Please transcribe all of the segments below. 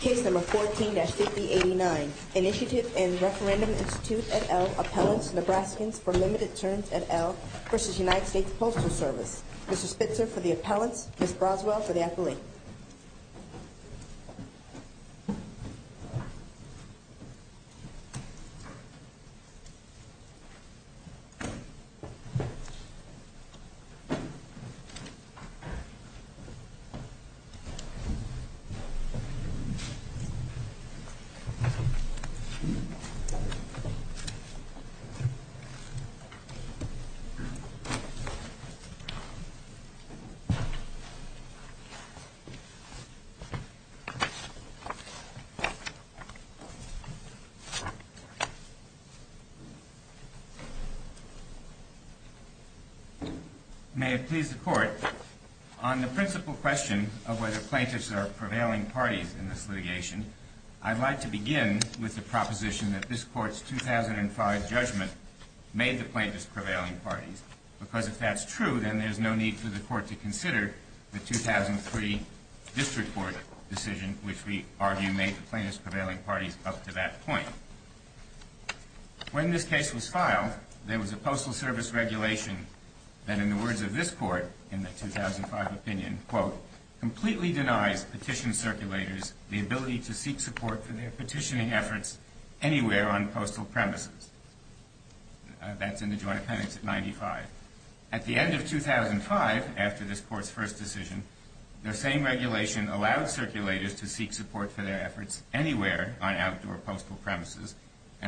Case No. 14-8089, Initiative and Referendum Institute et al., Appellants, Nebraskans for Limited Terms et al. v. United States Postal Service Mr. Spitzer for the Appellants, Ms. Broswell for the Appellate Mr. Spitzer for the Appellant I would like to begin with the proposition that this Court's 2005 judgment made the plaintiffs prevailing parties, because if that's true, then there's no need for the Court to consider the 2003 District Court decision, which we argue made the plaintiffs prevailing parties up to that point. When this case was filed, there was a Postal Service regulation that, in the words of this Court in the 2005 opinion, quote, and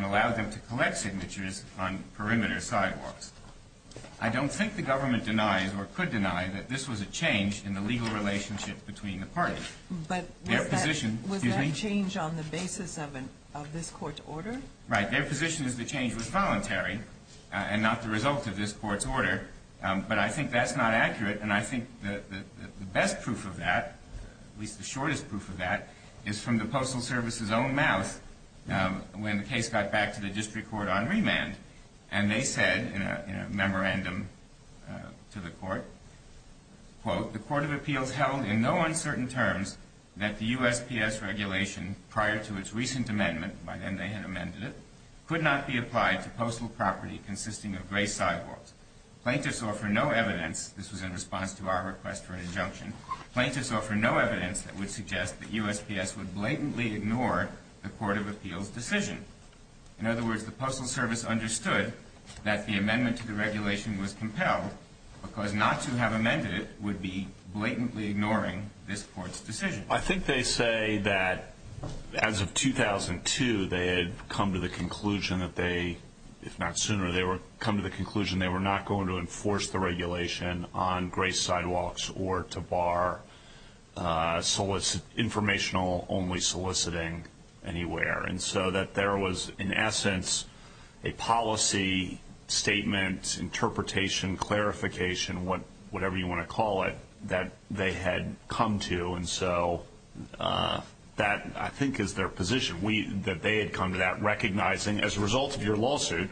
allowed them to collect signatures on perimeter sidewalks. I don't think the government denies or could deny that this was a change in the legal relationship between the parties. But was that change on the basis of this Court's order? Right. Their position is the change was voluntary and not the result of this Court's order. But I think that's not accurate, and I think the best proof of that, at least the shortest proof of that, is from the Postal Service's own mouth when the case got back to the District Court on remand. And they said, in a memorandum to the Court, quote, This was in response to our request for an injunction. Plaintiffs offer no evidence that would suggest that USPS would blatantly ignore the Court of Appeals' decision. In other words, the Postal Service understood that the amendment to the regulation was compelled because not to have amended it would be blatantly ignoring this Court's decision. I think they say that, as of 2002, they had come to the conclusion that they, if not sooner, they had come to the conclusion they were not going to enforce the regulation on gray sidewalks or to bar informational-only soliciting anywhere. And so that there was, in essence, a policy statement, interpretation, clarification, whatever you want to call it, that they had come to. And so that, I think, is their position, that they had come to that recognizing, as a result of your lawsuit,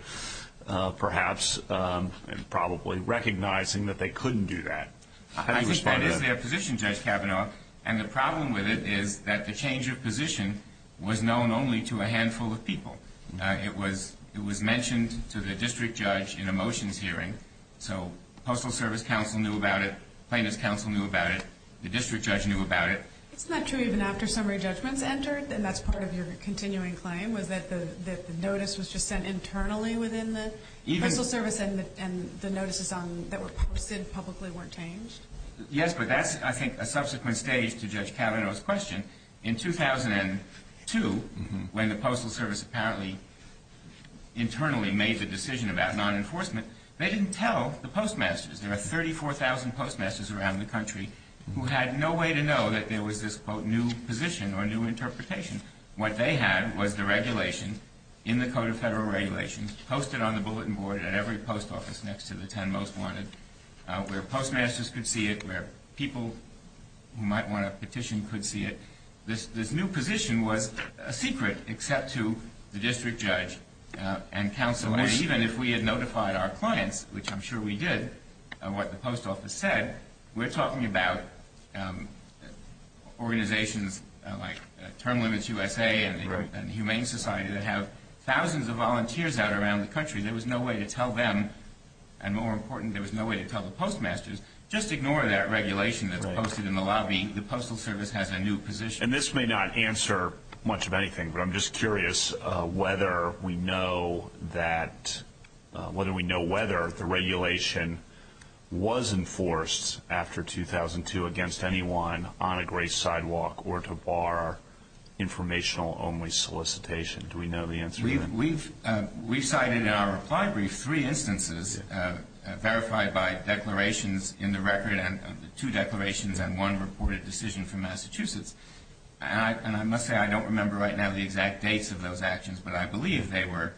perhaps, and probably recognizing that they couldn't do that. How do you respond to that? I think that is their position, Judge Kavanaugh. And the problem with it is that the change of position was known only to a handful of people. It was mentioned to the district judge in a motions hearing. So Postal Service counsel knew about it. Plaintiffs' counsel knew about it. The district judge knew about it. Isn't that true even after summary judgments entered, and that's part of your continuing claim, was that the notice was just sent internally within the Postal Service and the notices that were posted publicly weren't changed? Yes, but that's, I think, a subsequent stage to Judge Kavanaugh's question. In 2002, when the Postal Service apparently internally made the decision about non-enforcement, they didn't tell the postmasters. There were 34,000 postmasters around the country who had no way to know that there was this, quote, new position or new interpretation. What they had was the regulation in the Code of Federal Regulations posted on the bulletin board at every post office next to the 10 most wanted, where postmasters could see it, where people who might want to petition could see it. This new position was a secret except to the district judge and counsel. And even if we had notified our clients, which I'm sure we did, what the post office said, we're talking about organizations like Term Limits USA and Humane Society that have thousands of volunteers out around the country. There was no way to tell them, and more important, there was no way to tell the postmasters, just ignore that regulation that's posted in the lobby. The Postal Service has a new position. And this may not answer much of anything, but I'm just curious whether we know that, whether we know whether the regulation was enforced after 2002 against anyone on a gray sidewalk or to bar informational only solicitation. Do we know the answer to that? We've cited in our reply brief three instances verified by declarations in the record, two declarations and one reported decision from Massachusetts. And I must say I don't remember right now the exact dates of those actions, but I believe they were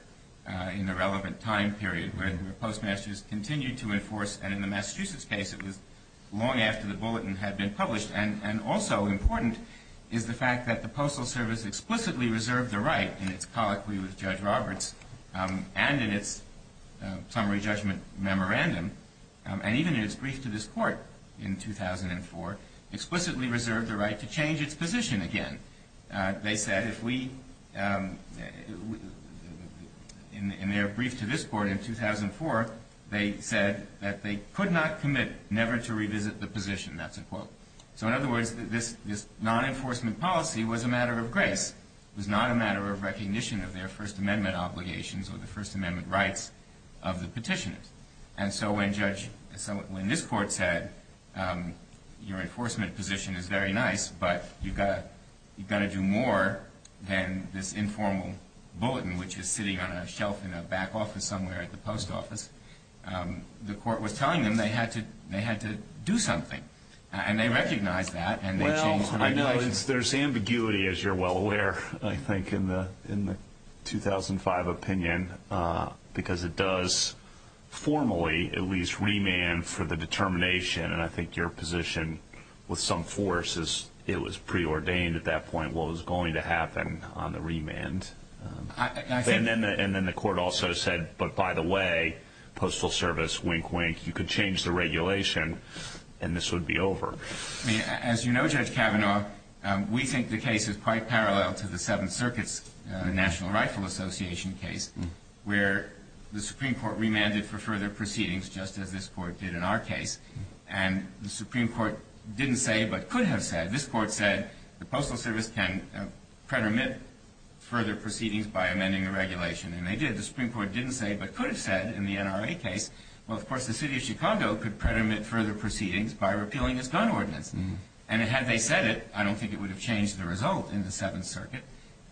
in the relevant time period where postmasters continued to enforce. And in the Massachusetts case, it was long after the bulletin had been published. And also important is the fact that the Postal Service explicitly reserved the right, in its colloquy with Judge Roberts and in its summary judgment memorandum, and even in its brief to this court in 2004, explicitly reserved the right to change its position again. They said if we, in their brief to this court in 2004, they said that they could not commit never to revisit the position. That's a quote. So in other words, this non-enforcement policy was a matter of grace. It was not a matter of recognition of their First Amendment obligations or the First Amendment rights of the petitioners. And so when this court said your enforcement position is very nice, but you've got to do more than this informal bulletin, which is sitting on a shelf in a back office somewhere at the post office, the court was telling them they had to do something. And they recognized that, and they changed the regulation. Well, I know there's ambiguity, as you're well aware, I think, in the 2005 opinion, because it does formally at least remand for the determination. And I think your position with some force is it was preordained at that point what was going to happen on the remand. And then the court also said, but by the way, Postal Service, wink, wink, you could change the regulation and this would be over. As you know, Judge Kavanaugh, we think the case is quite parallel to the Seventh Circuit's National Rifle Association case where the Supreme Court remanded for further proceedings just as this court did in our case. And the Supreme Court didn't say but could have said. As this court said, the Postal Service can pretermit further proceedings by amending the regulation. And they did. The Supreme Court didn't say but could have said in the NRA case, well, of course, the city of Chicago could pretermit further proceedings by repealing this gun ordinance. And had they said it, I don't think it would have changed the result in the Seventh Circuit.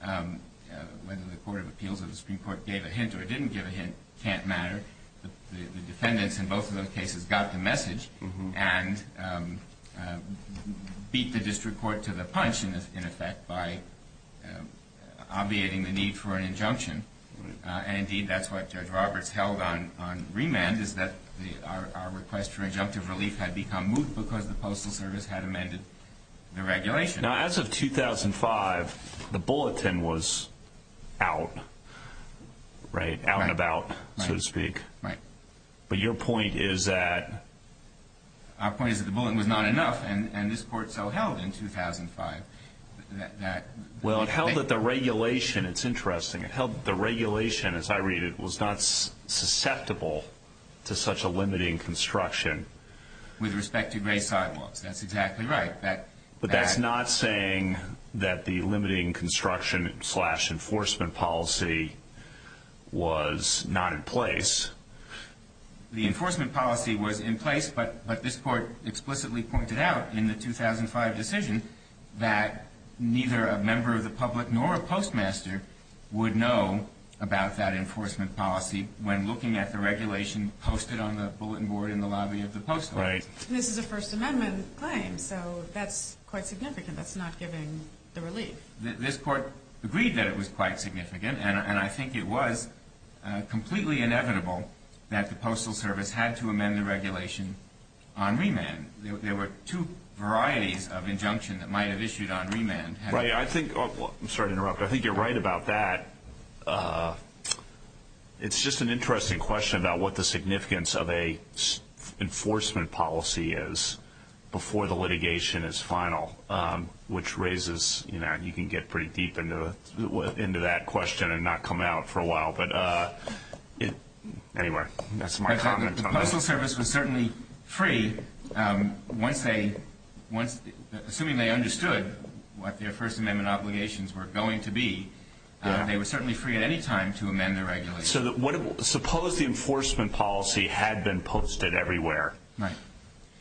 Whether the Court of Appeals or the Supreme Court gave a hint or didn't give a hint can't matter. The defendants in both of those cases got the message and beat the district court to the punch, in effect, by obviating the need for an injunction. And, indeed, that's what Judge Roberts held on remand, is that our request for injunctive relief had become moot because the Postal Service had amended the regulation. Now, as of 2005, the bulletin was out, right? Out and about, so to speak. Right. But your point is that... Our point is that the bulletin was not enough, and this court so held in 2005 that... Well, it held that the regulation, it's interesting, it held that the regulation, as I read it, was not susceptible to such a limiting construction. With respect to gray sidewalks, that's exactly right. But that's not saying that the limiting construction slash enforcement policy was not in place. The enforcement policy was in place, but this court explicitly pointed out in the 2005 decision that neither a member of the public nor a postmaster would know about that enforcement policy when looking at the regulation posted on the bulletin board in the lobby of the Postal Service. Right. And this is a First Amendment claim, so that's quite significant. That's not giving the relief. This court agreed that it was quite significant, and I think it was completely inevitable that the Postal Service had to amend the regulation on remand. There were two varieties of injunction that might have issued on remand. Right. I think... I'm sorry to interrupt, but I think you're right about that. It's just an interesting question about what the significance of an enforcement policy is before the litigation is final, which raises... You can get pretty deep into that question and not come out for a while. Anyway, that's my comment on that. The Postal Service was certainly free. Assuming they understood what their First Amendment obligations were going to be, they were certainly free at any time to amend the regulation. Suppose the enforcement policy had been posted everywhere,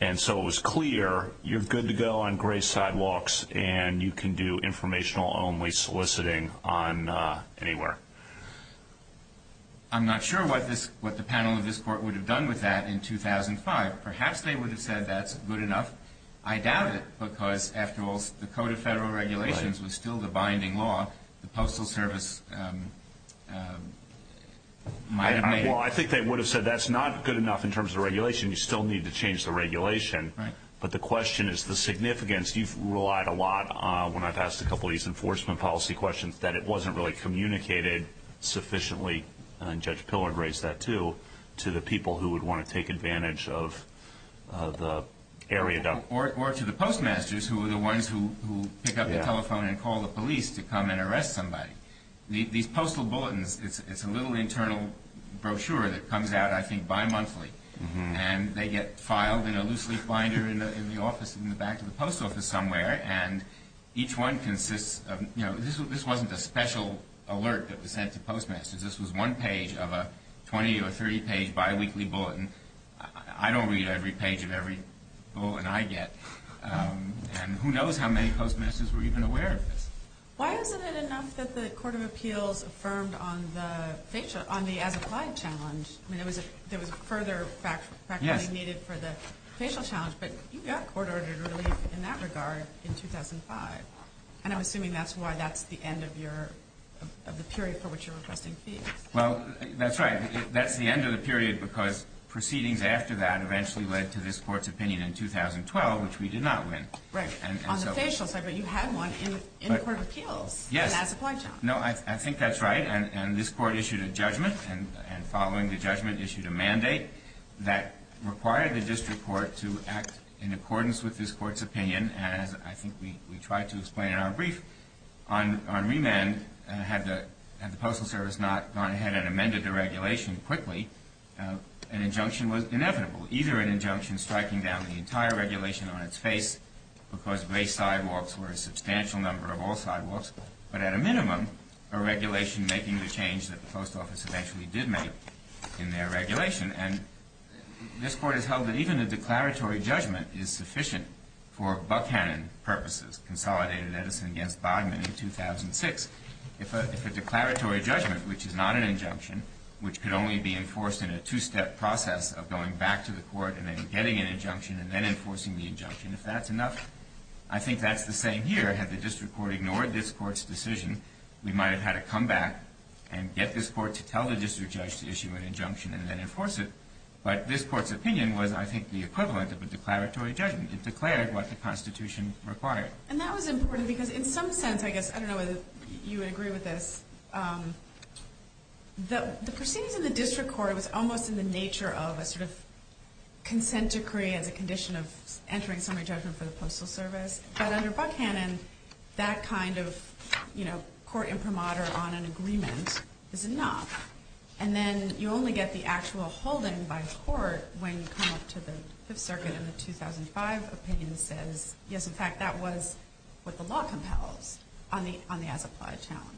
and so it was clear you're good to go on gray sidewalks and you can do informational-only soliciting anywhere. I'm not sure what the panel of this court would have done with that in 2005. Perhaps they would have said that's good enough. I doubt it because, after all, the Code of Federal Regulations was still the binding law. The Postal Service might have made... Well, I think they would have said that's not good enough in terms of regulation. You still need to change the regulation. Right. But the question is the significance. You've relied a lot on, when I've asked a couple of these enforcement policy questions, that it wasn't really communicated sufficiently, and Judge Pillard raised that too, to the people who would want to take advantage of the area. Or to the postmasters, who are the ones who pick up the telephone and call the police to come and arrest somebody. These postal bulletins, it's a little internal brochure that comes out, I think, bimonthly, and they get filed in a loose-leaf binder in the back of the post office somewhere, and each one consists of... This wasn't a special alert that was sent to postmasters. This was one page of a 20- or 30-page biweekly bulletin. I don't read every page of every bulletin I get, and who knows how many postmasters were even aware of this. Why wasn't it enough that the Court of Appeals affirmed on the as-applied challenge? I mean, there was further fact-finding needed for the facial challenge, but you got court-ordered relief in that regard in 2005, and I'm assuming that's why that's the end of the period for which you're requesting fees. Well, that's right. That's the end of the period because proceedings after that eventually led to this Court's opinion in 2012, which we did not win. Right. On the facial side, but you had one in the Court of Appeals. Yes. And as-applied challenge. No, I think that's right, and this Court issued a judgment, and following the judgment issued a mandate that required the district court to act in accordance with this Court's opinion, as I think we tried to explain in our brief. On remand, had the Postal Service not gone ahead and amended the regulation quickly, an injunction was inevitable. Either an injunction striking down the entire regulation on its face because gray sidewalks were a substantial number of all sidewalks, but at a minimum, a regulation making the change that the post office eventually did make in their regulation, and this Court has held that even a declaratory judgment is sufficient for Buckhannon purposes, consolidated Edison against Bodman in 2006. If a declaratory judgment, which is not an injunction, which could only be enforced in a two-step process of going back to the court and then getting an injunction and then enforcing the injunction, if that's enough, I think that's the same here. Had the district court ignored this Court's decision, we might have had to come back and get this Court to tell the district judge to issue an injunction and then enforce it. But this Court's opinion was, I think, the equivalent of a declaratory judgment. It declared what the Constitution required. And that was important because in some sense, I guess, I don't know whether you would agree with this, the proceedings in the district court was almost in the nature of a sort of consent decree as a condition of entering summary judgment for the Postal Service. But under Buckhannon, that kind of court imprimatur on an agreement is enough. And then you only get the actual holding by court when you come up to the Fifth Circuit and the 2005 opinion says, yes, in fact, that was what the law compels on the as-applied challenge.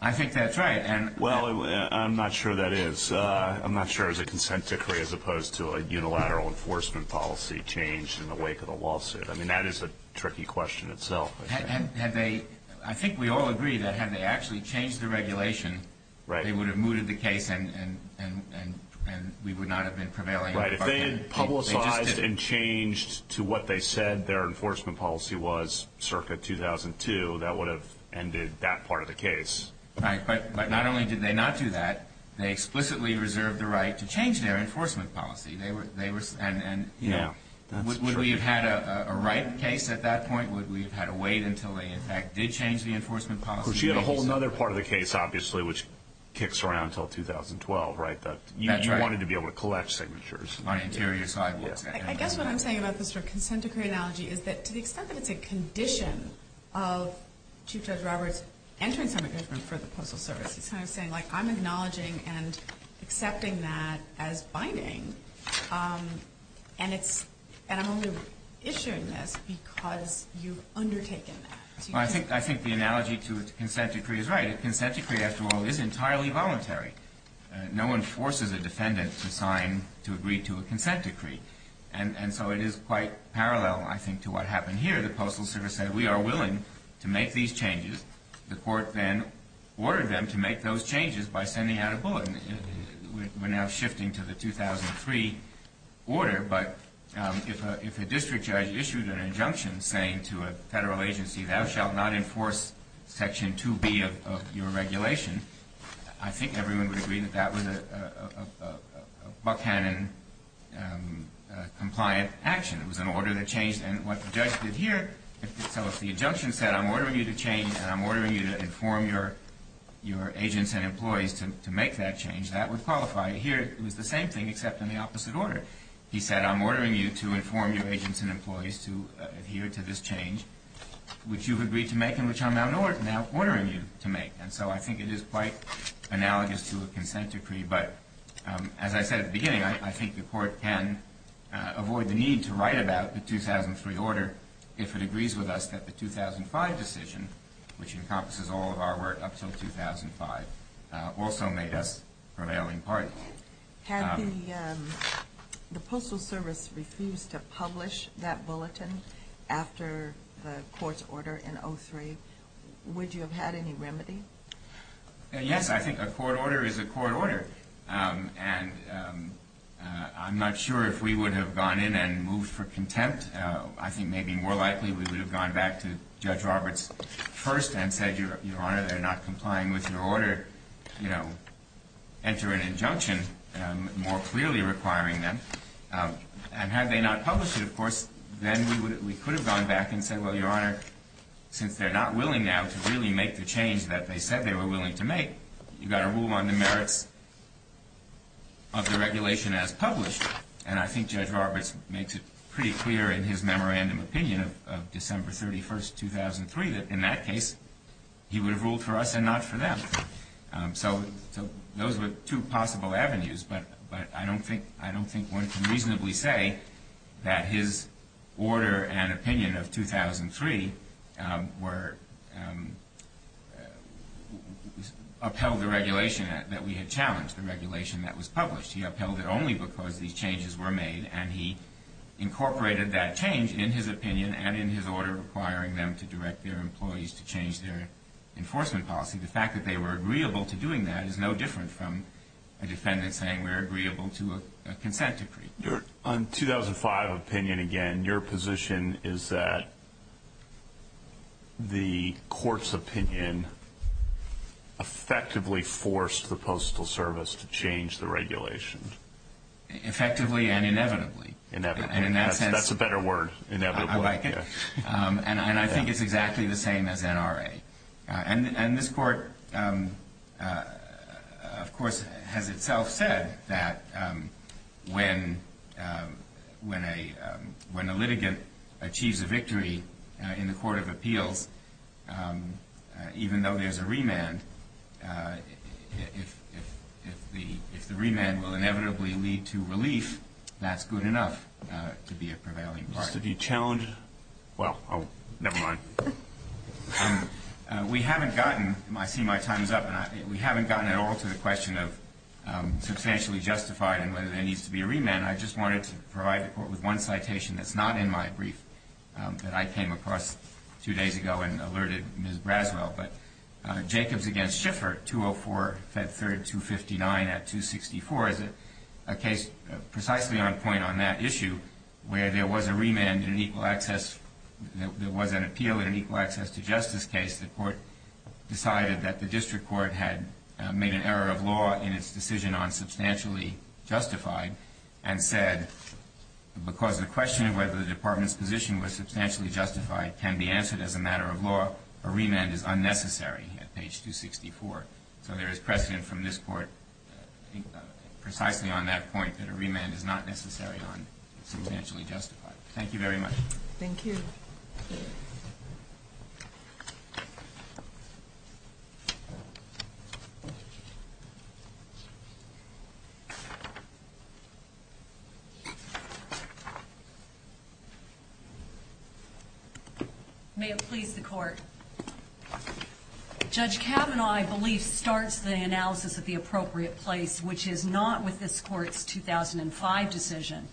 I think that's right. Well, I'm not sure that is. I'm not sure it was a consent decree as opposed to a unilateral enforcement policy changed in the wake of the lawsuit. I mean, that is a tricky question itself. I think we all agree that had they actually changed the regulation, they would have mooted the case and we would not have been prevailing. Right. If they had publicized and changed to what they said their enforcement policy was circa 2002, that would have ended that part of the case. Right. But not only did they not do that, they explicitly reserved the right to change their enforcement policy. And would we have had a right case at that point? Would we have had to wait until they, in fact, did change the enforcement policy? Well, she had a whole other part of the case, obviously, which kicks around until 2012, right? You wanted to be able to collect signatures. I guess what I'm saying about this sort of consent decree analogy is that to the extent that it's a condition of Chief Judge Roberts entering some agreement for the Postal Service, he's kind of saying, like, I'm acknowledging and accepting that as binding, and I'm only issuing this because you've undertaken that. Well, I think the analogy to a consent decree is right. A consent decree, after all, is entirely voluntary. No one forces a defendant to sign to agree to a consent decree. And so it is quite parallel, I think, to what happened here. The Postal Service said, we are willing to make these changes. The court then ordered them to make those changes by sending out a bulletin. We're now shifting to the 2003 order, but if a district judge issued an injunction saying to a Federal agency, thou shalt not enforce Section 2B of your regulation, I think everyone would agree that that was a Buckhannon-compliant action. It was an order that changed. And what the judge did here, so if the injunction said, I'm ordering you to change and I'm ordering you to inform your agents and employees to make that change, that would qualify. Here it was the same thing except in the opposite order. He said, I'm ordering you to inform your agents and employees to adhere to this change, which you've agreed to make and which I'm now ordering you to make. And so I think it is quite analogous to a consent decree. But as I said at the beginning, I think the court can avoid the need to write about the 2003 order if it agrees with us that the 2005 decision, which encompasses all of our work up until 2005, also made us prevailing parties. Had the Postal Service refused to publish that bulletin after the court's order in 2003, would you have had any remedy? Yes, I think a court order is a court order. And I'm not sure if we would have gone in and moved for contempt. I think maybe more likely we would have gone back to Judge Roberts first and said, Your Honor, they're not complying with your order. Enter an injunction more clearly requiring them. And had they not published it, of course, then we could have gone back and said, Well, Your Honor, since they're not willing now to really make the change that they said they were willing to make, you've got to rule on the merits of the regulation as published. And I think Judge Roberts makes it pretty clear in his memorandum opinion of December 31, 2003, that in that case he would have ruled for us and not for them. So those were two possible avenues. But I don't think one can reasonably say that his order and opinion of 2003 upheld the regulation that we had challenged, the regulation that was published. He upheld it only because these changes were made, and he incorporated that change in his opinion and in his order requiring them to direct their employees to change their enforcement policy. The fact that they were agreeable to doing that is no different from a defendant saying we're agreeable to a consent decree. On 2005 opinion again, your position is that the court's opinion effectively forced the Postal Service to change the regulation. Effectively and inevitably. That's a better word, inevitably. I like it. And I think it's exactly the same as NRA. And this court, of course, has itself said that when a litigant achieves a victory in the court of appeals, even though there's a remand, if the remand will inevitably lead to relief, that's good enough to be a prevailing. Did you challenge? Well, never mind. We haven't gotten, I see my time's up, we haven't gotten at all to the question of substantially justified and whether there needs to be a remand. And I just wanted to provide the court with one citation that's not in my brief that I came across two days ago and alerted Ms. Braswell. But Jacobs against Schiffer, 204, Fed 3rd, 259 at 264 is a case precisely on point on that issue, where there was a remand in an equal access, there was an appeal in an equal access to justice case. The court decided that the district court had made an error of law in its decision on substantially justified and said because the question of whether the department's position was substantially justified can be answered as a matter of law, a remand is unnecessary at page 264. So there is precedent from this court precisely on that point that a remand is not necessary on substantially justified. Thank you very much. Thank you. Thank you. May it please the court. Judge Kavanaugh, I believe, starts the analysis at the appropriate place, which is not with this court's 2005 decision,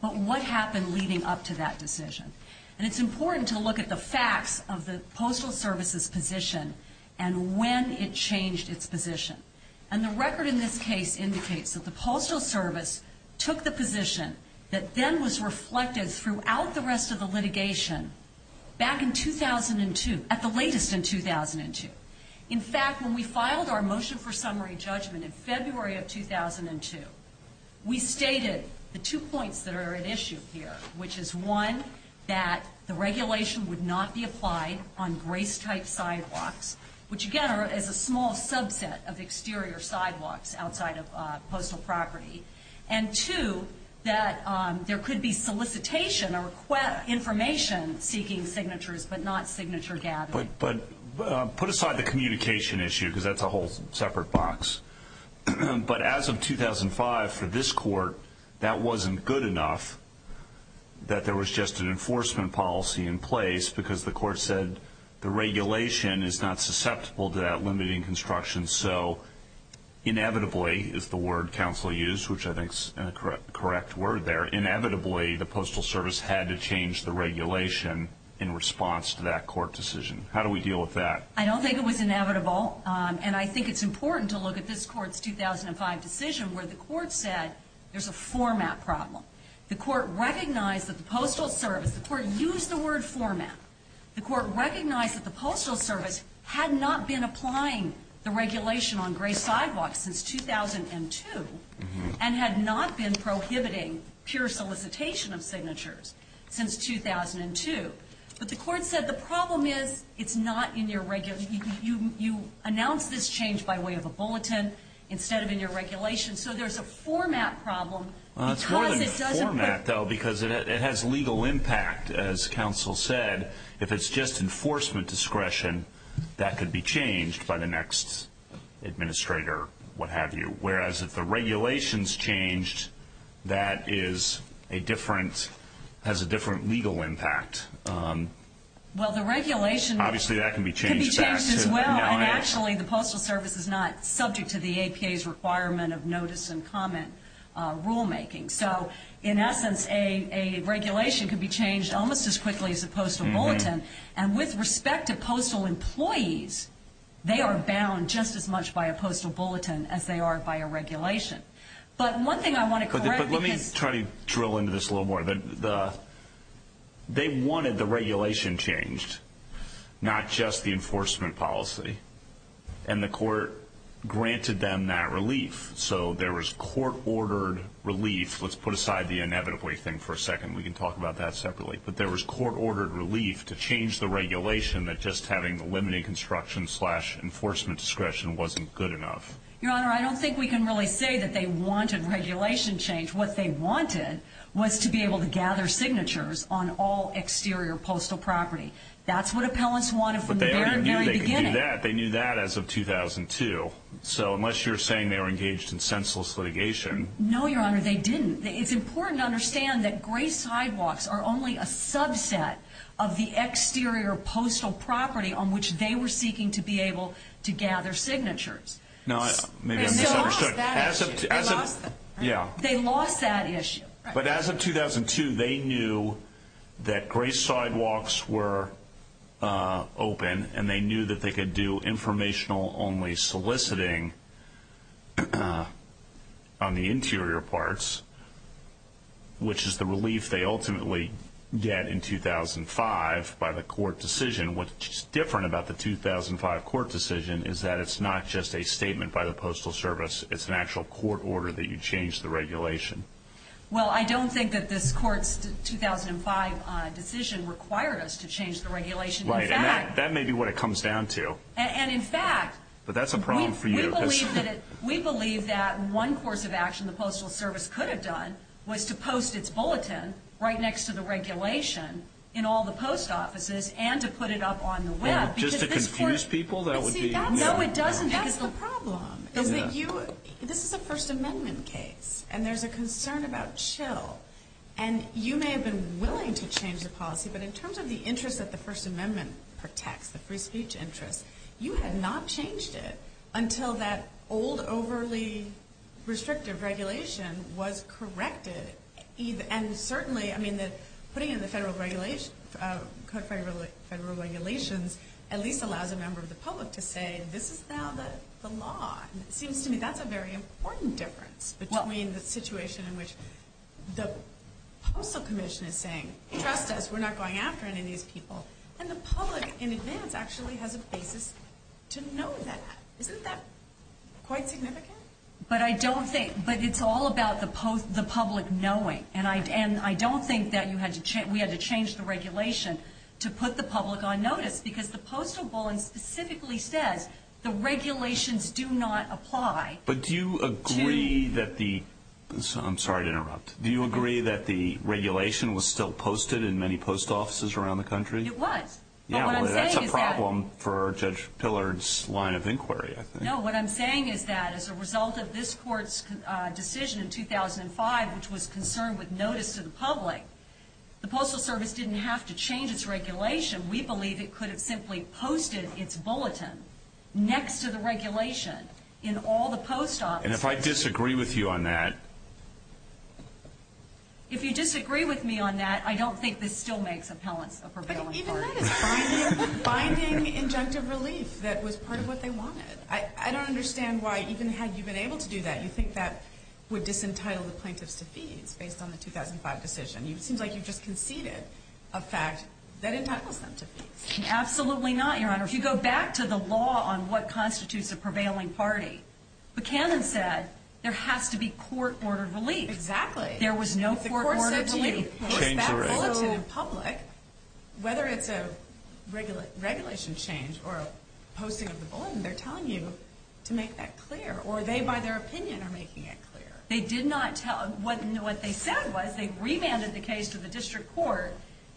but what happened leading up to that decision. And it's important to look at the facts of the Postal Service's position and when it changed its position. And the record in this case indicates that the Postal Service took the position that then was reflected throughout the rest of the litigation back in 2002, at the latest in 2002. In fact, when we filed our motion for summary judgment in February of 2002, we stated the two points that are at issue here, which is, one, that the regulation would not be applied on grace-type sidewalks, which, again, is a small subset of exterior sidewalks outside of postal property, and, two, that there could be solicitation or information seeking signatures but not signature gathering. But put aside the communication issue because that's a whole separate box. But as of 2005, for this court, that wasn't good enough that there was just an enforcement policy in place because the court said the regulation is not susceptible to that limiting construction. So inevitably, is the word counsel used, which I think is a correct word there, inevitably the Postal Service had to change the regulation in response to that court decision. How do we deal with that? I don't think it was inevitable, and I think it's important to look at this court's 2005 decision where the court said there's a format problem. The court recognized that the Postal Service, the court used the word format. The court recognized that the Postal Service had not been applying the regulation on grace sidewalks since 2002 and had not been prohibiting pure solicitation of signatures since 2002. But the court said the problem is it's not in your regulation. You announced this change by way of a bulletin instead of in your regulation. So there's a format problem because it doesn't work. It's more than a format, though, because it has legal impact. As counsel said, if it's just enforcement discretion, that could be changed by the next administrator, what have you, whereas if the regulation's changed, that has a different legal impact. Well, the regulation could be changed as well, and actually the Postal Service is not subject to the APA's requirement of notice and comment rulemaking. So in essence, a regulation could be changed almost as quickly as a postal bulletin, and with respect to postal employees, they are bound just as much by a postal bulletin as they are by a regulation. But one thing I want to correct is... But let me try to drill into this a little more. They wanted the regulation changed, not just the enforcement policy, and the court granted them that relief. So there was court-ordered relief. Let's put aside the inevitably thing for a second. We can talk about that separately. But there was court-ordered relief to change the regulation that just having the limiting construction-slash-enforcement discretion wasn't good enough. Your Honor, I don't think we can really say that they wanted regulation changed. What they wanted was to be able to gather signatures on all exterior postal property. That's what appellants wanted from the very beginning. But they already knew they could do that. They knew that as of 2002. So unless you're saying they were engaged in senseless litigation... No, Your Honor, they didn't. It's important to understand that gray sidewalks are only a subset of the exterior postal property on which they were seeking to be able to gather signatures. Maybe I'm misunderstood. They lost that issue. They lost that issue. But as of 2002, they knew that gray sidewalks were open, and they knew that they could do informational-only soliciting on the interior parts, which is the relief they ultimately get in 2005 by the court decision. What's different about the 2005 court decision is that it's not just a statement by the Postal Service. It's an actual court order that you change the regulation. Well, I don't think that this court's 2005 decision required us to change the regulation. Right, and that may be what it comes down to. And, in fact... But that's a problem for you. We believe that one course of action the Postal Service could have done was to post its bulletin right next to the regulation in all the post offices and to put it up on the Web. Just to confuse people, that would be... No, it doesn't. That's the problem, is that this is a First Amendment case, and there's a concern about chill. And you may have been willing to change the policy, but in terms of the interest that the First Amendment protects, the free speech interest, you had not changed it until that old, overly restrictive regulation was corrected. And certainly, I mean, putting in the federal regulations at least allows a member of the public to say this is now the law. It seems to me that's a very important difference between the situation in which the Postal Commission is saying, trust us, we're not going after any of these people. And the public, in advance, actually has a basis to know that. Isn't that quite significant? But I don't think... But it's all about the public knowing. And I don't think that we had to change the regulation to put the public on notice because the postal bulletin specifically says the regulations do not apply to... But do you agree that the... I'm sorry to interrupt. Do you agree that the regulation was still posted in many post offices around the country? It was. But what I'm saying is that... Yeah, well, that's a problem for Judge Pillard's line of inquiry, I think. No, what I'm saying is that as a result of this Court's decision in 2005, which was concerned with notice to the public, the Postal Service didn't have to change its regulation. We believe it could have simply posted its bulletin next to the regulation in all the post offices. And if I disagree with you on that... If you disagree with me on that, I don't think this still makes appellants a prevailing party. But even that is finding injunctive relief that was part of what they wanted. I don't understand why, even had you been able to do that, you think that would disentitle the plaintiffs to fees based on the 2005 decision. It seems like you've just conceded a fact that entitles them to fees. Absolutely not, Your Honor. If you go back to the law on what constitutes a prevailing party, Buchanan said there has to be court-ordered relief. Exactly. There was no court-ordered relief. If that's bulletin in public, whether it's a regulation change or posting of the bulletin, they're telling you to make that clear. Or they, by their opinion, are making it clear. They did not tell... What they said was they remanded the case to the District Court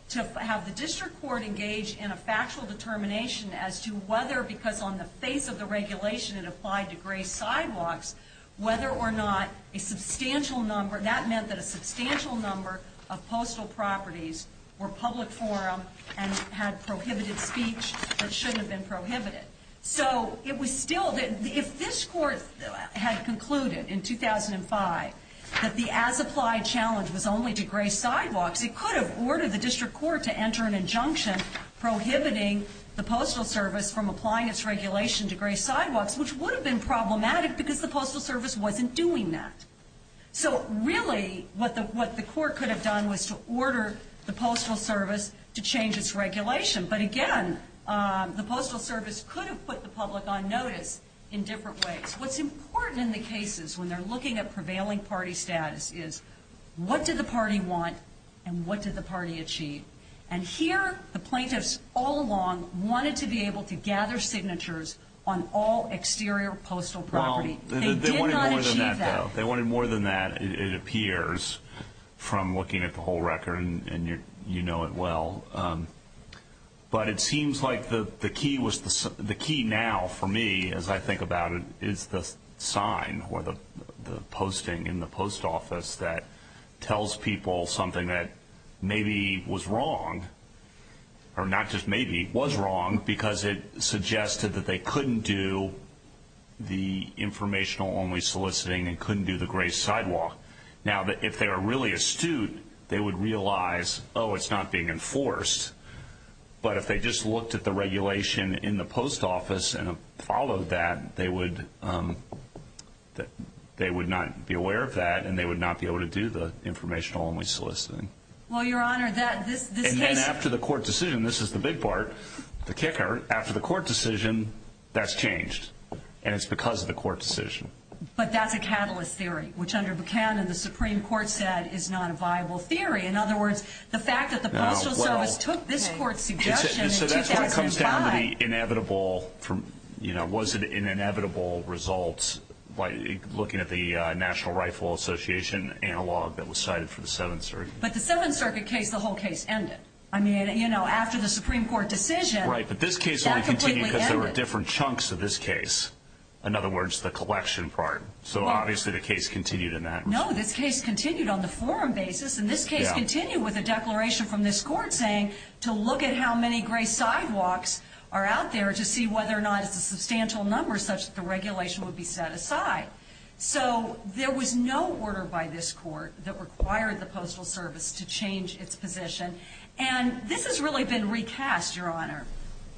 to have the District Court engage in a factual determination as to whether, because on the face of the regulation it applied to gray sidewalks, whether or not a substantial number... That meant that a substantial number of postal properties were public forum and had prohibited speech that shouldn't have been prohibited. So it was still... If this Court had concluded in 2005 that the as-applied challenge was only to gray sidewalks, it could have ordered the District Court to enter an injunction prohibiting the Postal Service from applying its regulation to gray sidewalks, which would have been problematic because the Postal Service wasn't doing that. So really what the Court could have done was to order the Postal Service to change its regulation. But again, the Postal Service could have put the public on notice in different ways. What's important in the cases when they're looking at prevailing party status is what did the party want and what did the party achieve? And here the plaintiffs all along wanted to be able to gather signatures on all exterior postal property. They did not achieve that. They wanted more than that, it appears, from looking at the whole record, and you know it well. But it seems like the key now for me, as I think about it, is the sign or the posting in the post office that tells people something that maybe was wrong, or not just maybe, was wrong, because it suggested that they couldn't do the informational-only soliciting and couldn't do the gray sidewalk. Now, if they were really astute, they would realize, oh, it's not being enforced. But if they just looked at the regulation in the post office and followed that, they would not be aware of that, and they would not be able to do the informational-only soliciting. Well, Your Honor, this case... And then after the court decision, this is the big part, the kicker, after the court decision, that's changed, and it's because of the court decision. But that's a catalyst theory, which under Buchanan the Supreme Court said is not a viable theory. In other words, the fact that the Postal Service took this court's suggestion in 2005... by looking at the National Rifle Association analog that was cited for the Seventh Circuit. But the Seventh Circuit case, the whole case, ended. I mean, you know, after the Supreme Court decision... Right, but this case only continued because there were different chunks of this case. In other words, the collection part. So obviously the case continued in that respect. No, this case continued on the forum basis, and this case continued with a declaration from this court saying to look at how many gray sidewalks are out there to see whether or not it's a substantial number such that the regulation would be set aside. So there was no order by this court that required the Postal Service to change its position. And this has really been recast, Your Honor,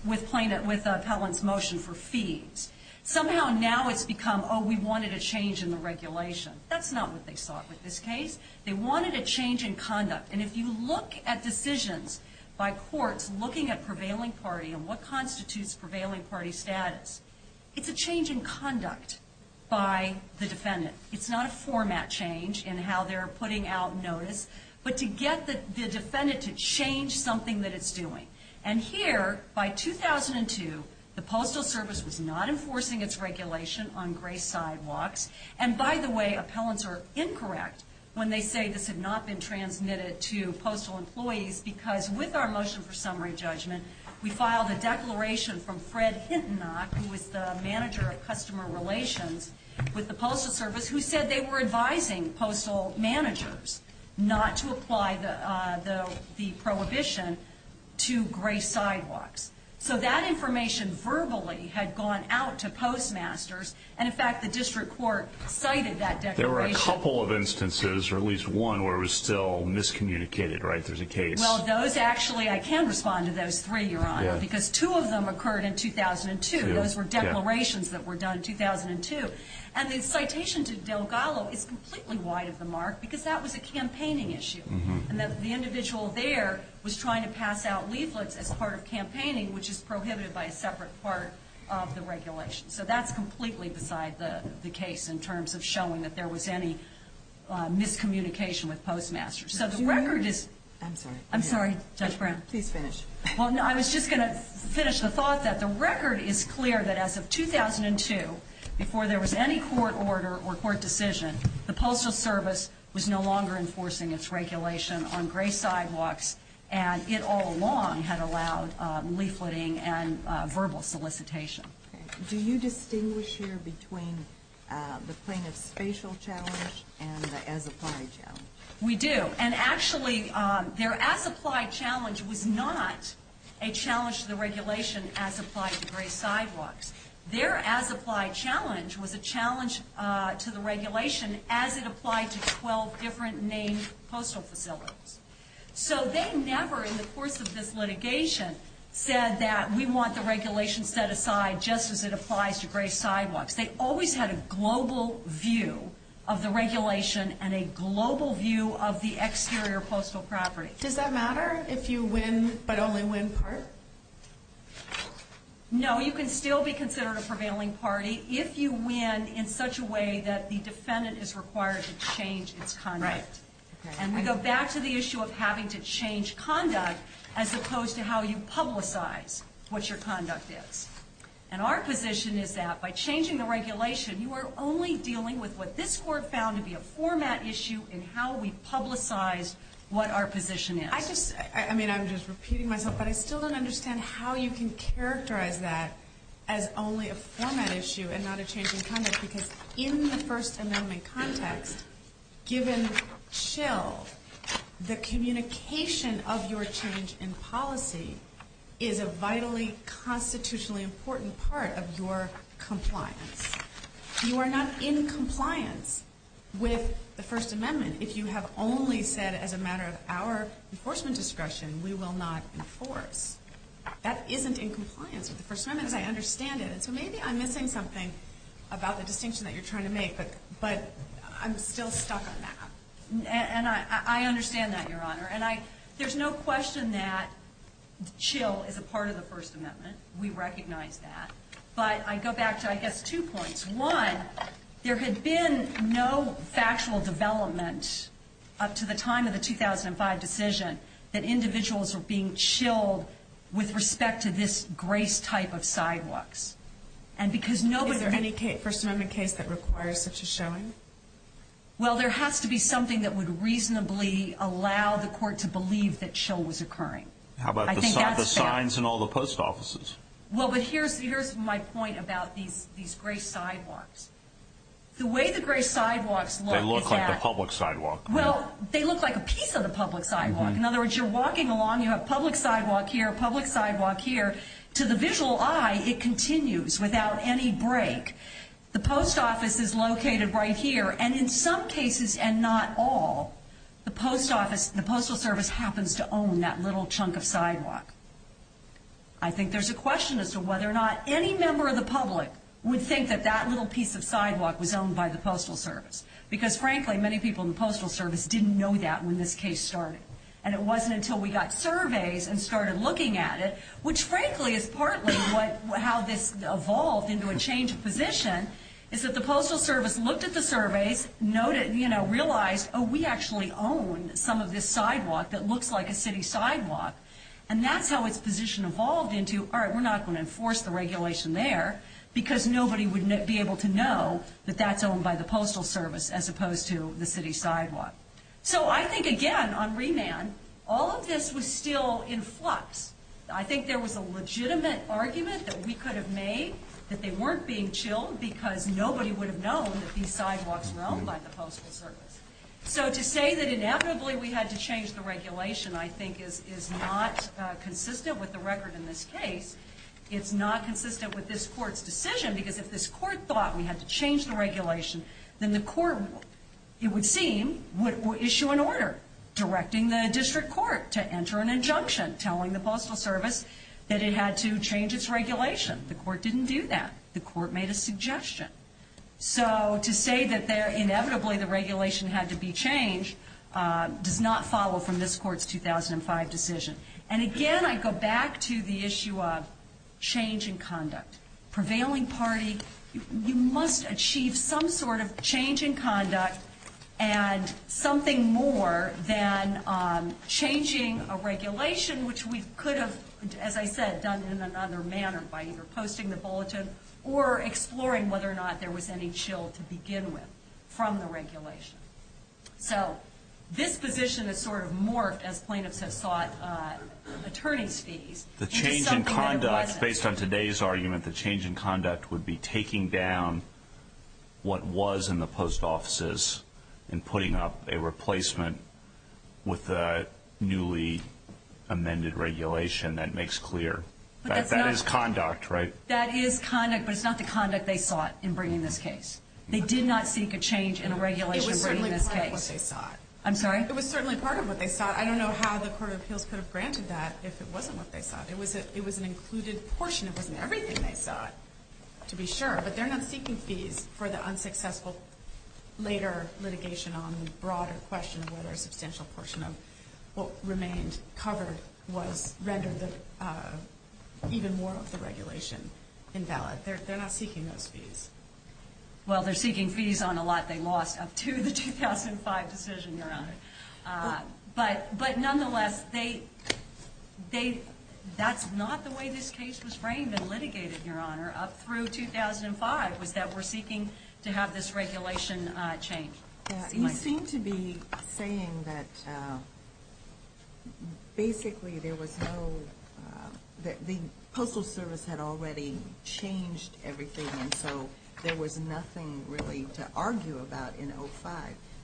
with Pelham's motion for fees. Somehow now it's become, oh, we wanted a change in the regulation. That's not what they sought with this case. They wanted a change in conduct. And if you look at decisions by courts looking at prevailing party and what constitutes prevailing party status, it's a change in conduct by the defendant. It's not a format change in how they're putting out notice, but to get the defendant to change something that it's doing. And here, by 2002, the Postal Service was not enforcing its regulation on gray sidewalks. And by the way, appellants are incorrect when they say this had not been transmitted to postal employees because with our motion for summary judgment, we filed a declaration from Fred Hintonock, who was the manager of customer relations with the Postal Service, who said they were advising postal managers not to apply the prohibition to gray sidewalks. So that information verbally had gone out to postmasters. And, in fact, the district court cited that declaration. There were a couple of instances, or at least one, where it was still miscommunicated, right? Yes, there's a case. Well, those actually, I can respond to those three, Your Honor, because two of them occurred in 2002. Those were declarations that were done in 2002. And the citation to Delgado is completely wide of the mark because that was a campaigning issue. And the individual there was trying to pass out leaflets as part of campaigning, which is prohibited by a separate part of the regulation. So that's completely beside the case in terms of showing that there was any miscommunication with postmasters. So the record is- I'm sorry. I'm sorry, Judge Brown. Please finish. Well, no, I was just going to finish the thought that the record is clear that as of 2002, before there was any court order or court decision, the Postal Service was no longer enforcing its regulation on gray sidewalks, and it all along had allowed leafleting and verbal solicitation. Okay. Do you distinguish here between the plaintiff's spatial challenge and the as-applied challenge? We do. And actually, their as-applied challenge was not a challenge to the regulation as applied to gray sidewalks. Their as-applied challenge was a challenge to the regulation as it applied to 12 different named postal facilities. So they never in the course of this litigation said that we want the regulation set aside just as it applies to gray sidewalks. They always had a global view of the regulation and a global view of the exterior postal property. Does that matter if you win but only win part? No, you can still be considered a prevailing party if you win in such a way that the defendant is required to change its conduct. Right. And we go back to the issue of having to change conduct as opposed to how you publicize what your conduct is. And our position is that by changing the regulation, you are only dealing with what this Court found to be a format issue in how we publicize what our position is. I just, I mean, I'm just repeating myself, but I still don't understand how you can characterize that as only a format issue and not a change in conduct. Because in the First Amendment context, given CHIL, the communication of your change in policy is a vitally constitutionally important part of your compliance. You are not in compliance with the First Amendment if you have only said as a matter of our enforcement discretion, we will not enforce. That isn't in compliance with the First Amendment as I understand it. So maybe I'm missing something about the distinction that you're trying to make, but I'm still stuck on that. And I understand that, Your Honor. And there's no question that CHIL is a part of the First Amendment. We recognize that. But I go back to, I guess, two points. One, there had been no factual development up to the time of the 2005 decision that individuals were being CHIL'd with respect to this grace type of sidewalks. And because nobody... Is there any First Amendment case that requires such a showing? Well, there has to be something that would reasonably allow the court to believe that CHIL was occurring. How about the signs in all the post offices? Well, but here's my point about these grace sidewalks. The way the grace sidewalks look is that... They look like a public sidewalk. Well, they look like a piece of the public sidewalk. In other words, you're walking along, you have public sidewalk here, public sidewalk here. To the visual eye, it continues without any break. The post office is located right here. And in some cases, and not all, the postal service happens to own that little chunk of sidewalk. I think there's a question as to whether or not any member of the public would think that that little piece of sidewalk was owned by the postal service. Because frankly, many people in the postal service didn't know that when this case started. And it wasn't until we got surveys and started looking at it, which frankly is partly how this evolved into a change of position, is that the postal service looked at the surveys, realized, oh, we actually own some of this sidewalk that looks like a city sidewalk. And that's how its position evolved into, all right, we're not going to enforce the regulation there because nobody would be able to know that that's owned by the postal service as opposed to the city sidewalk. So I think, again, on remand, all of this was still in flux. I think there was a legitimate argument that we could have made that they weren't being chilled because nobody would have known that these sidewalks were owned by the postal service. So to say that inevitably we had to change the regulation, I think, is not consistent with the record in this case. It's not consistent with this court's decision because if this court thought we had to change the regulation, then the court, it would seem, would issue an order directing the district court to enter an injunction telling the postal service that it had to change its regulation. The court didn't do that. The court made a suggestion. So to say that inevitably the regulation had to be changed does not follow from this court's 2005 decision. And, again, I go back to the issue of change in conduct. Prevailing party, you must achieve some sort of change in conduct and something more than changing a regulation, which we could have, as I said, done in another manner by either posting the bulletin or exploring whether or not there was any chill to begin with from the regulation. So this position has sort of morphed as plaintiffs have sought attorney's fees. The change in conduct, based on today's argument, the change in conduct would be taking down what was in the post offices and putting up a replacement with the newly amended regulation that makes clear that that is conduct, right? That is conduct, but it's not the conduct they sought in bringing this case. They did not seek a change in a regulation bringing this case. It was certainly part of what they sought. I'm sorry? It was certainly part of what they sought. I don't know how the Court of Appeals could have granted that if it wasn't what they sought. It was an included portion. It wasn't everything they sought, to be sure. But they're not seeking fees for the unsuccessful later litigation on the broader question of whether a substantial portion of what remained covered rendered even more of the regulation invalid. They're not seeking those fees. Well, they're seeking fees on a lot they lost up to the 2005 decision, Your Honor. But nonetheless, that's not the way this case was framed and litigated, Your Honor, up through 2005, was that we're seeking to have this regulation changed. You seem to be saying that basically there was no – the Postal Service had already changed everything, and so there was nothing really to argue about in 2005.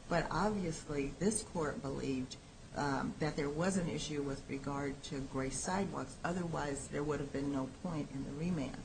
But obviously, this Court believed that there was an issue with regard to gray sidewalks. Otherwise, there would have been no point in the remand,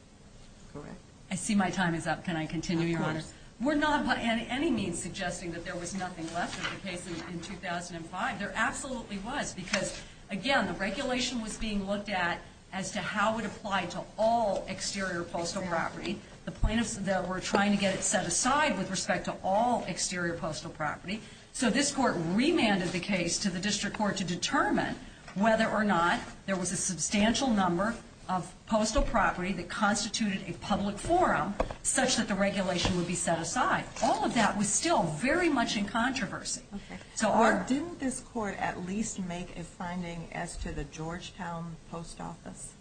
correct? I see my time is up. Can I continue, Your Honor? Of course. We're not by any means suggesting that there was nothing left of the case in 2005. There absolutely was because, again, the regulation was being looked at as to how it applied to all exterior postal property. The plaintiffs were trying to get it set aside with respect to all exterior postal property. So this Court remanded the case to the District Court to determine whether or not there was a substantial number of postal property that constituted a public forum such that the regulation would be set aside. All of that was still very much in controversy. Okay. Or didn't this Court at least make a finding as to the Georgetown Post Office?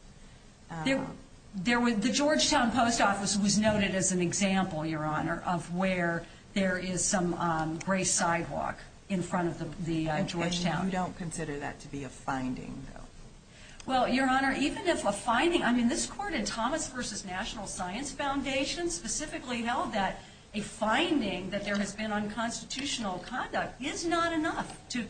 The Georgetown Post Office was noted as an example, Your Honor, of where there is some gray sidewalk in front of the Georgetown. And you don't consider that to be a finding, though? Well, Your Honor, even if a findingóI mean, this Court in Thomas v. National Science Foundation specifically held that a finding that there has been unconstitutional conduct is not enough to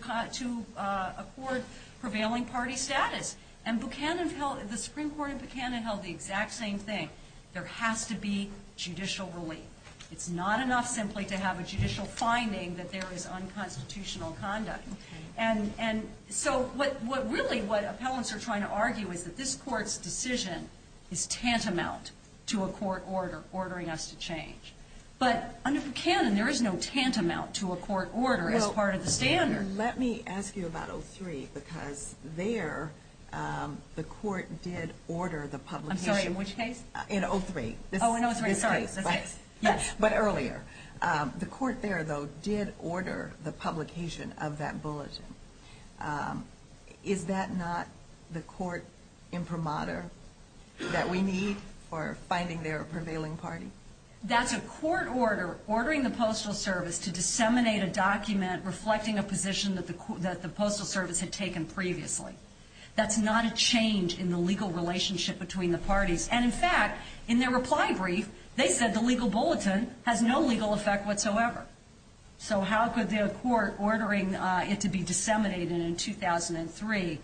accord prevailing party status. And the Supreme Court in Buchanan held the exact same thing. There has to be judicial relief. It's not enough simply to have a judicial finding that there is unconstitutional conduct. Okay. And so really what appellants are trying to argue is that this Court's decision is tantamount to a court order ordering us to change. But under Buchanan, there is no tantamount to a court order as part of the standard. Let me ask you about 03, because there the Court did order the publicationó I'm sorry, in which case? In 03. Oh, in 03. Sorry. Yes. But earlier. The Court there, though, did order the publication of that bulletin. Is that not the court imprimatur that we need for finding their prevailing party? That's a court order ordering the Postal Service to disseminate a document reflecting a position that the Postal Service had taken previously. That's not a change in the legal relationship between the parties. And, in fact, in their reply brief, they said the legal bulletin has no legal effect whatsoever. So how could the court ordering it to be disseminated in 2003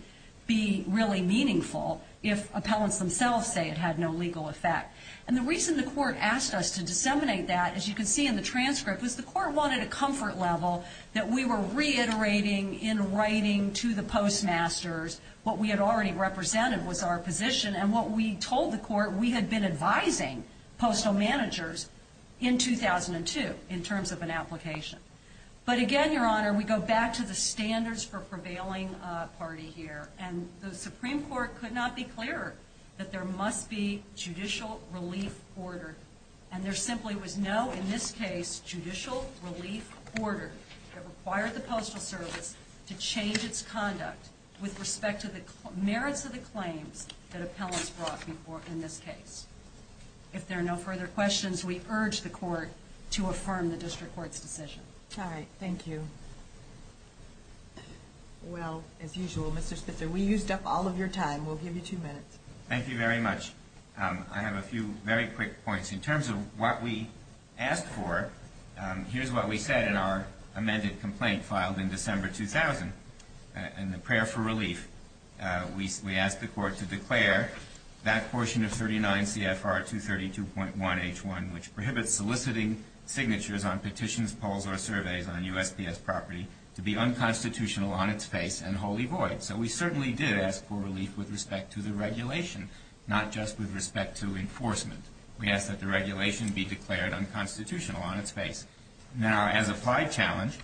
be really meaningful if appellants themselves say it had no legal effect? And the reason the court asked us to disseminate that, as you can see in the transcript, was the court wanted a comfort level that we were reiterating in writing to the postmasters what we had already represented was our position and what we told the court we had been advising postal managers in 2002 in terms of an application. But, again, Your Honor, we go back to the standards for prevailing party here. And the Supreme Court could not be clearer that there must be judicial relief order. And there simply was no, in this case, judicial relief order that required the Postal Service to change its conduct with respect to the merits of the claims that appellants brought in this case. If there are no further questions, we urge the court to affirm the district court's decision. All right. Thank you. Well, as usual, Mr. Spitzer, we used up all of your time. We'll give you two minutes. Thank you very much. I have a few very quick points. In terms of what we asked for, here's what we said in our amended complaint filed in December 2000. In the prayer for relief, we asked the court to declare that portion of 39 CFR 232.1H1, which prohibits soliciting signatures on petitions, polls, or surveys on USPS property, to be unconstitutional on its face and wholly void. So we certainly did ask for relief with respect to the regulation, not just with respect to enforcement. We asked that the regulation be declared unconstitutional on its face. Now, as applied challenge,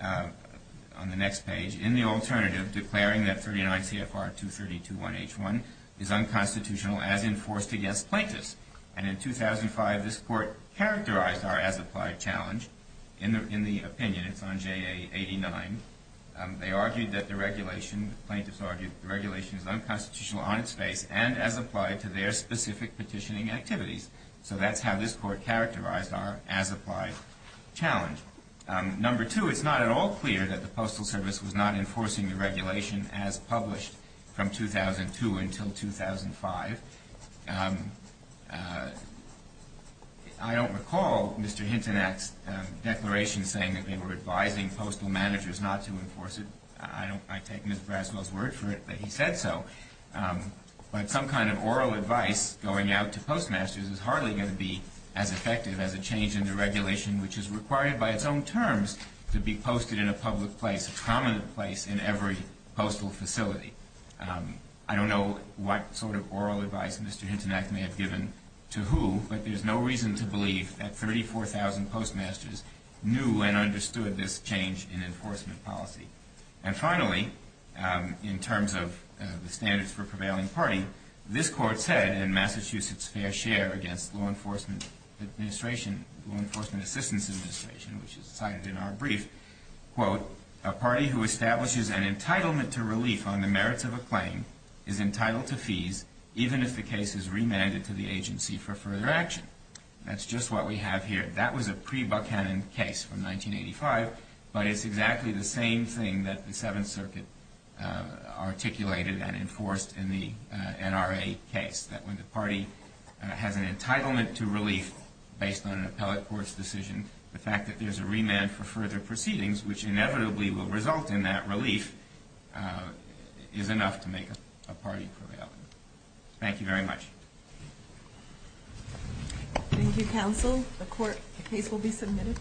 on the next page, in the alternative, declaring that 39 CFR 232.1H1 is unconstitutional as enforced against plaintiffs. And in 2005, this court characterized our as applied challenge. In the opinion, it's on JA 89, they argued that the regulation, the plaintiffs argued that the regulation is unconstitutional on its face and as applied to their specific petitioning activities. So that's how this court characterized our as applied challenge. Number two, it's not at all clear that the Postal Service was not enforcing the regulation as published from 2002 until 2005. I don't recall Mr. Hintonak's declaration saying that they were advising postal managers not to enforce it. I take Ms. Braswell's word for it that he said so. But some kind of oral advice going out to postmasters is hardly going to be as effective as a change in the regulation, which is required by its own terms to be posted in a public place, a prominent place in every postal facility. I don't know what sort of oral advice Mr. Hintonak may have given to who, but there's no reason to believe that 34,000 postmasters knew and understood this change in enforcement policy. And finally, in terms of the standards for prevailing party, this court said in Massachusetts' fair share against the Law Enforcement Assistance Administration, which is cited in our brief, quote, a party who establishes an entitlement to relief on the merits of a claim is entitled to fees, even if the case is remanded to the agency for further action. That's just what we have here. That was a pre-Buckhannon case from 1985, but it's exactly the same thing that the Seventh Circuit articulated and enforced in the NRA case, that when the party has an entitlement to relief based on an appellate court's decision, the fact that there's a remand for further proceedings, which inevitably will result in that relief, is enough to make a party prevailing. Thank you very much. Thank you, counsel. The case will be submitted.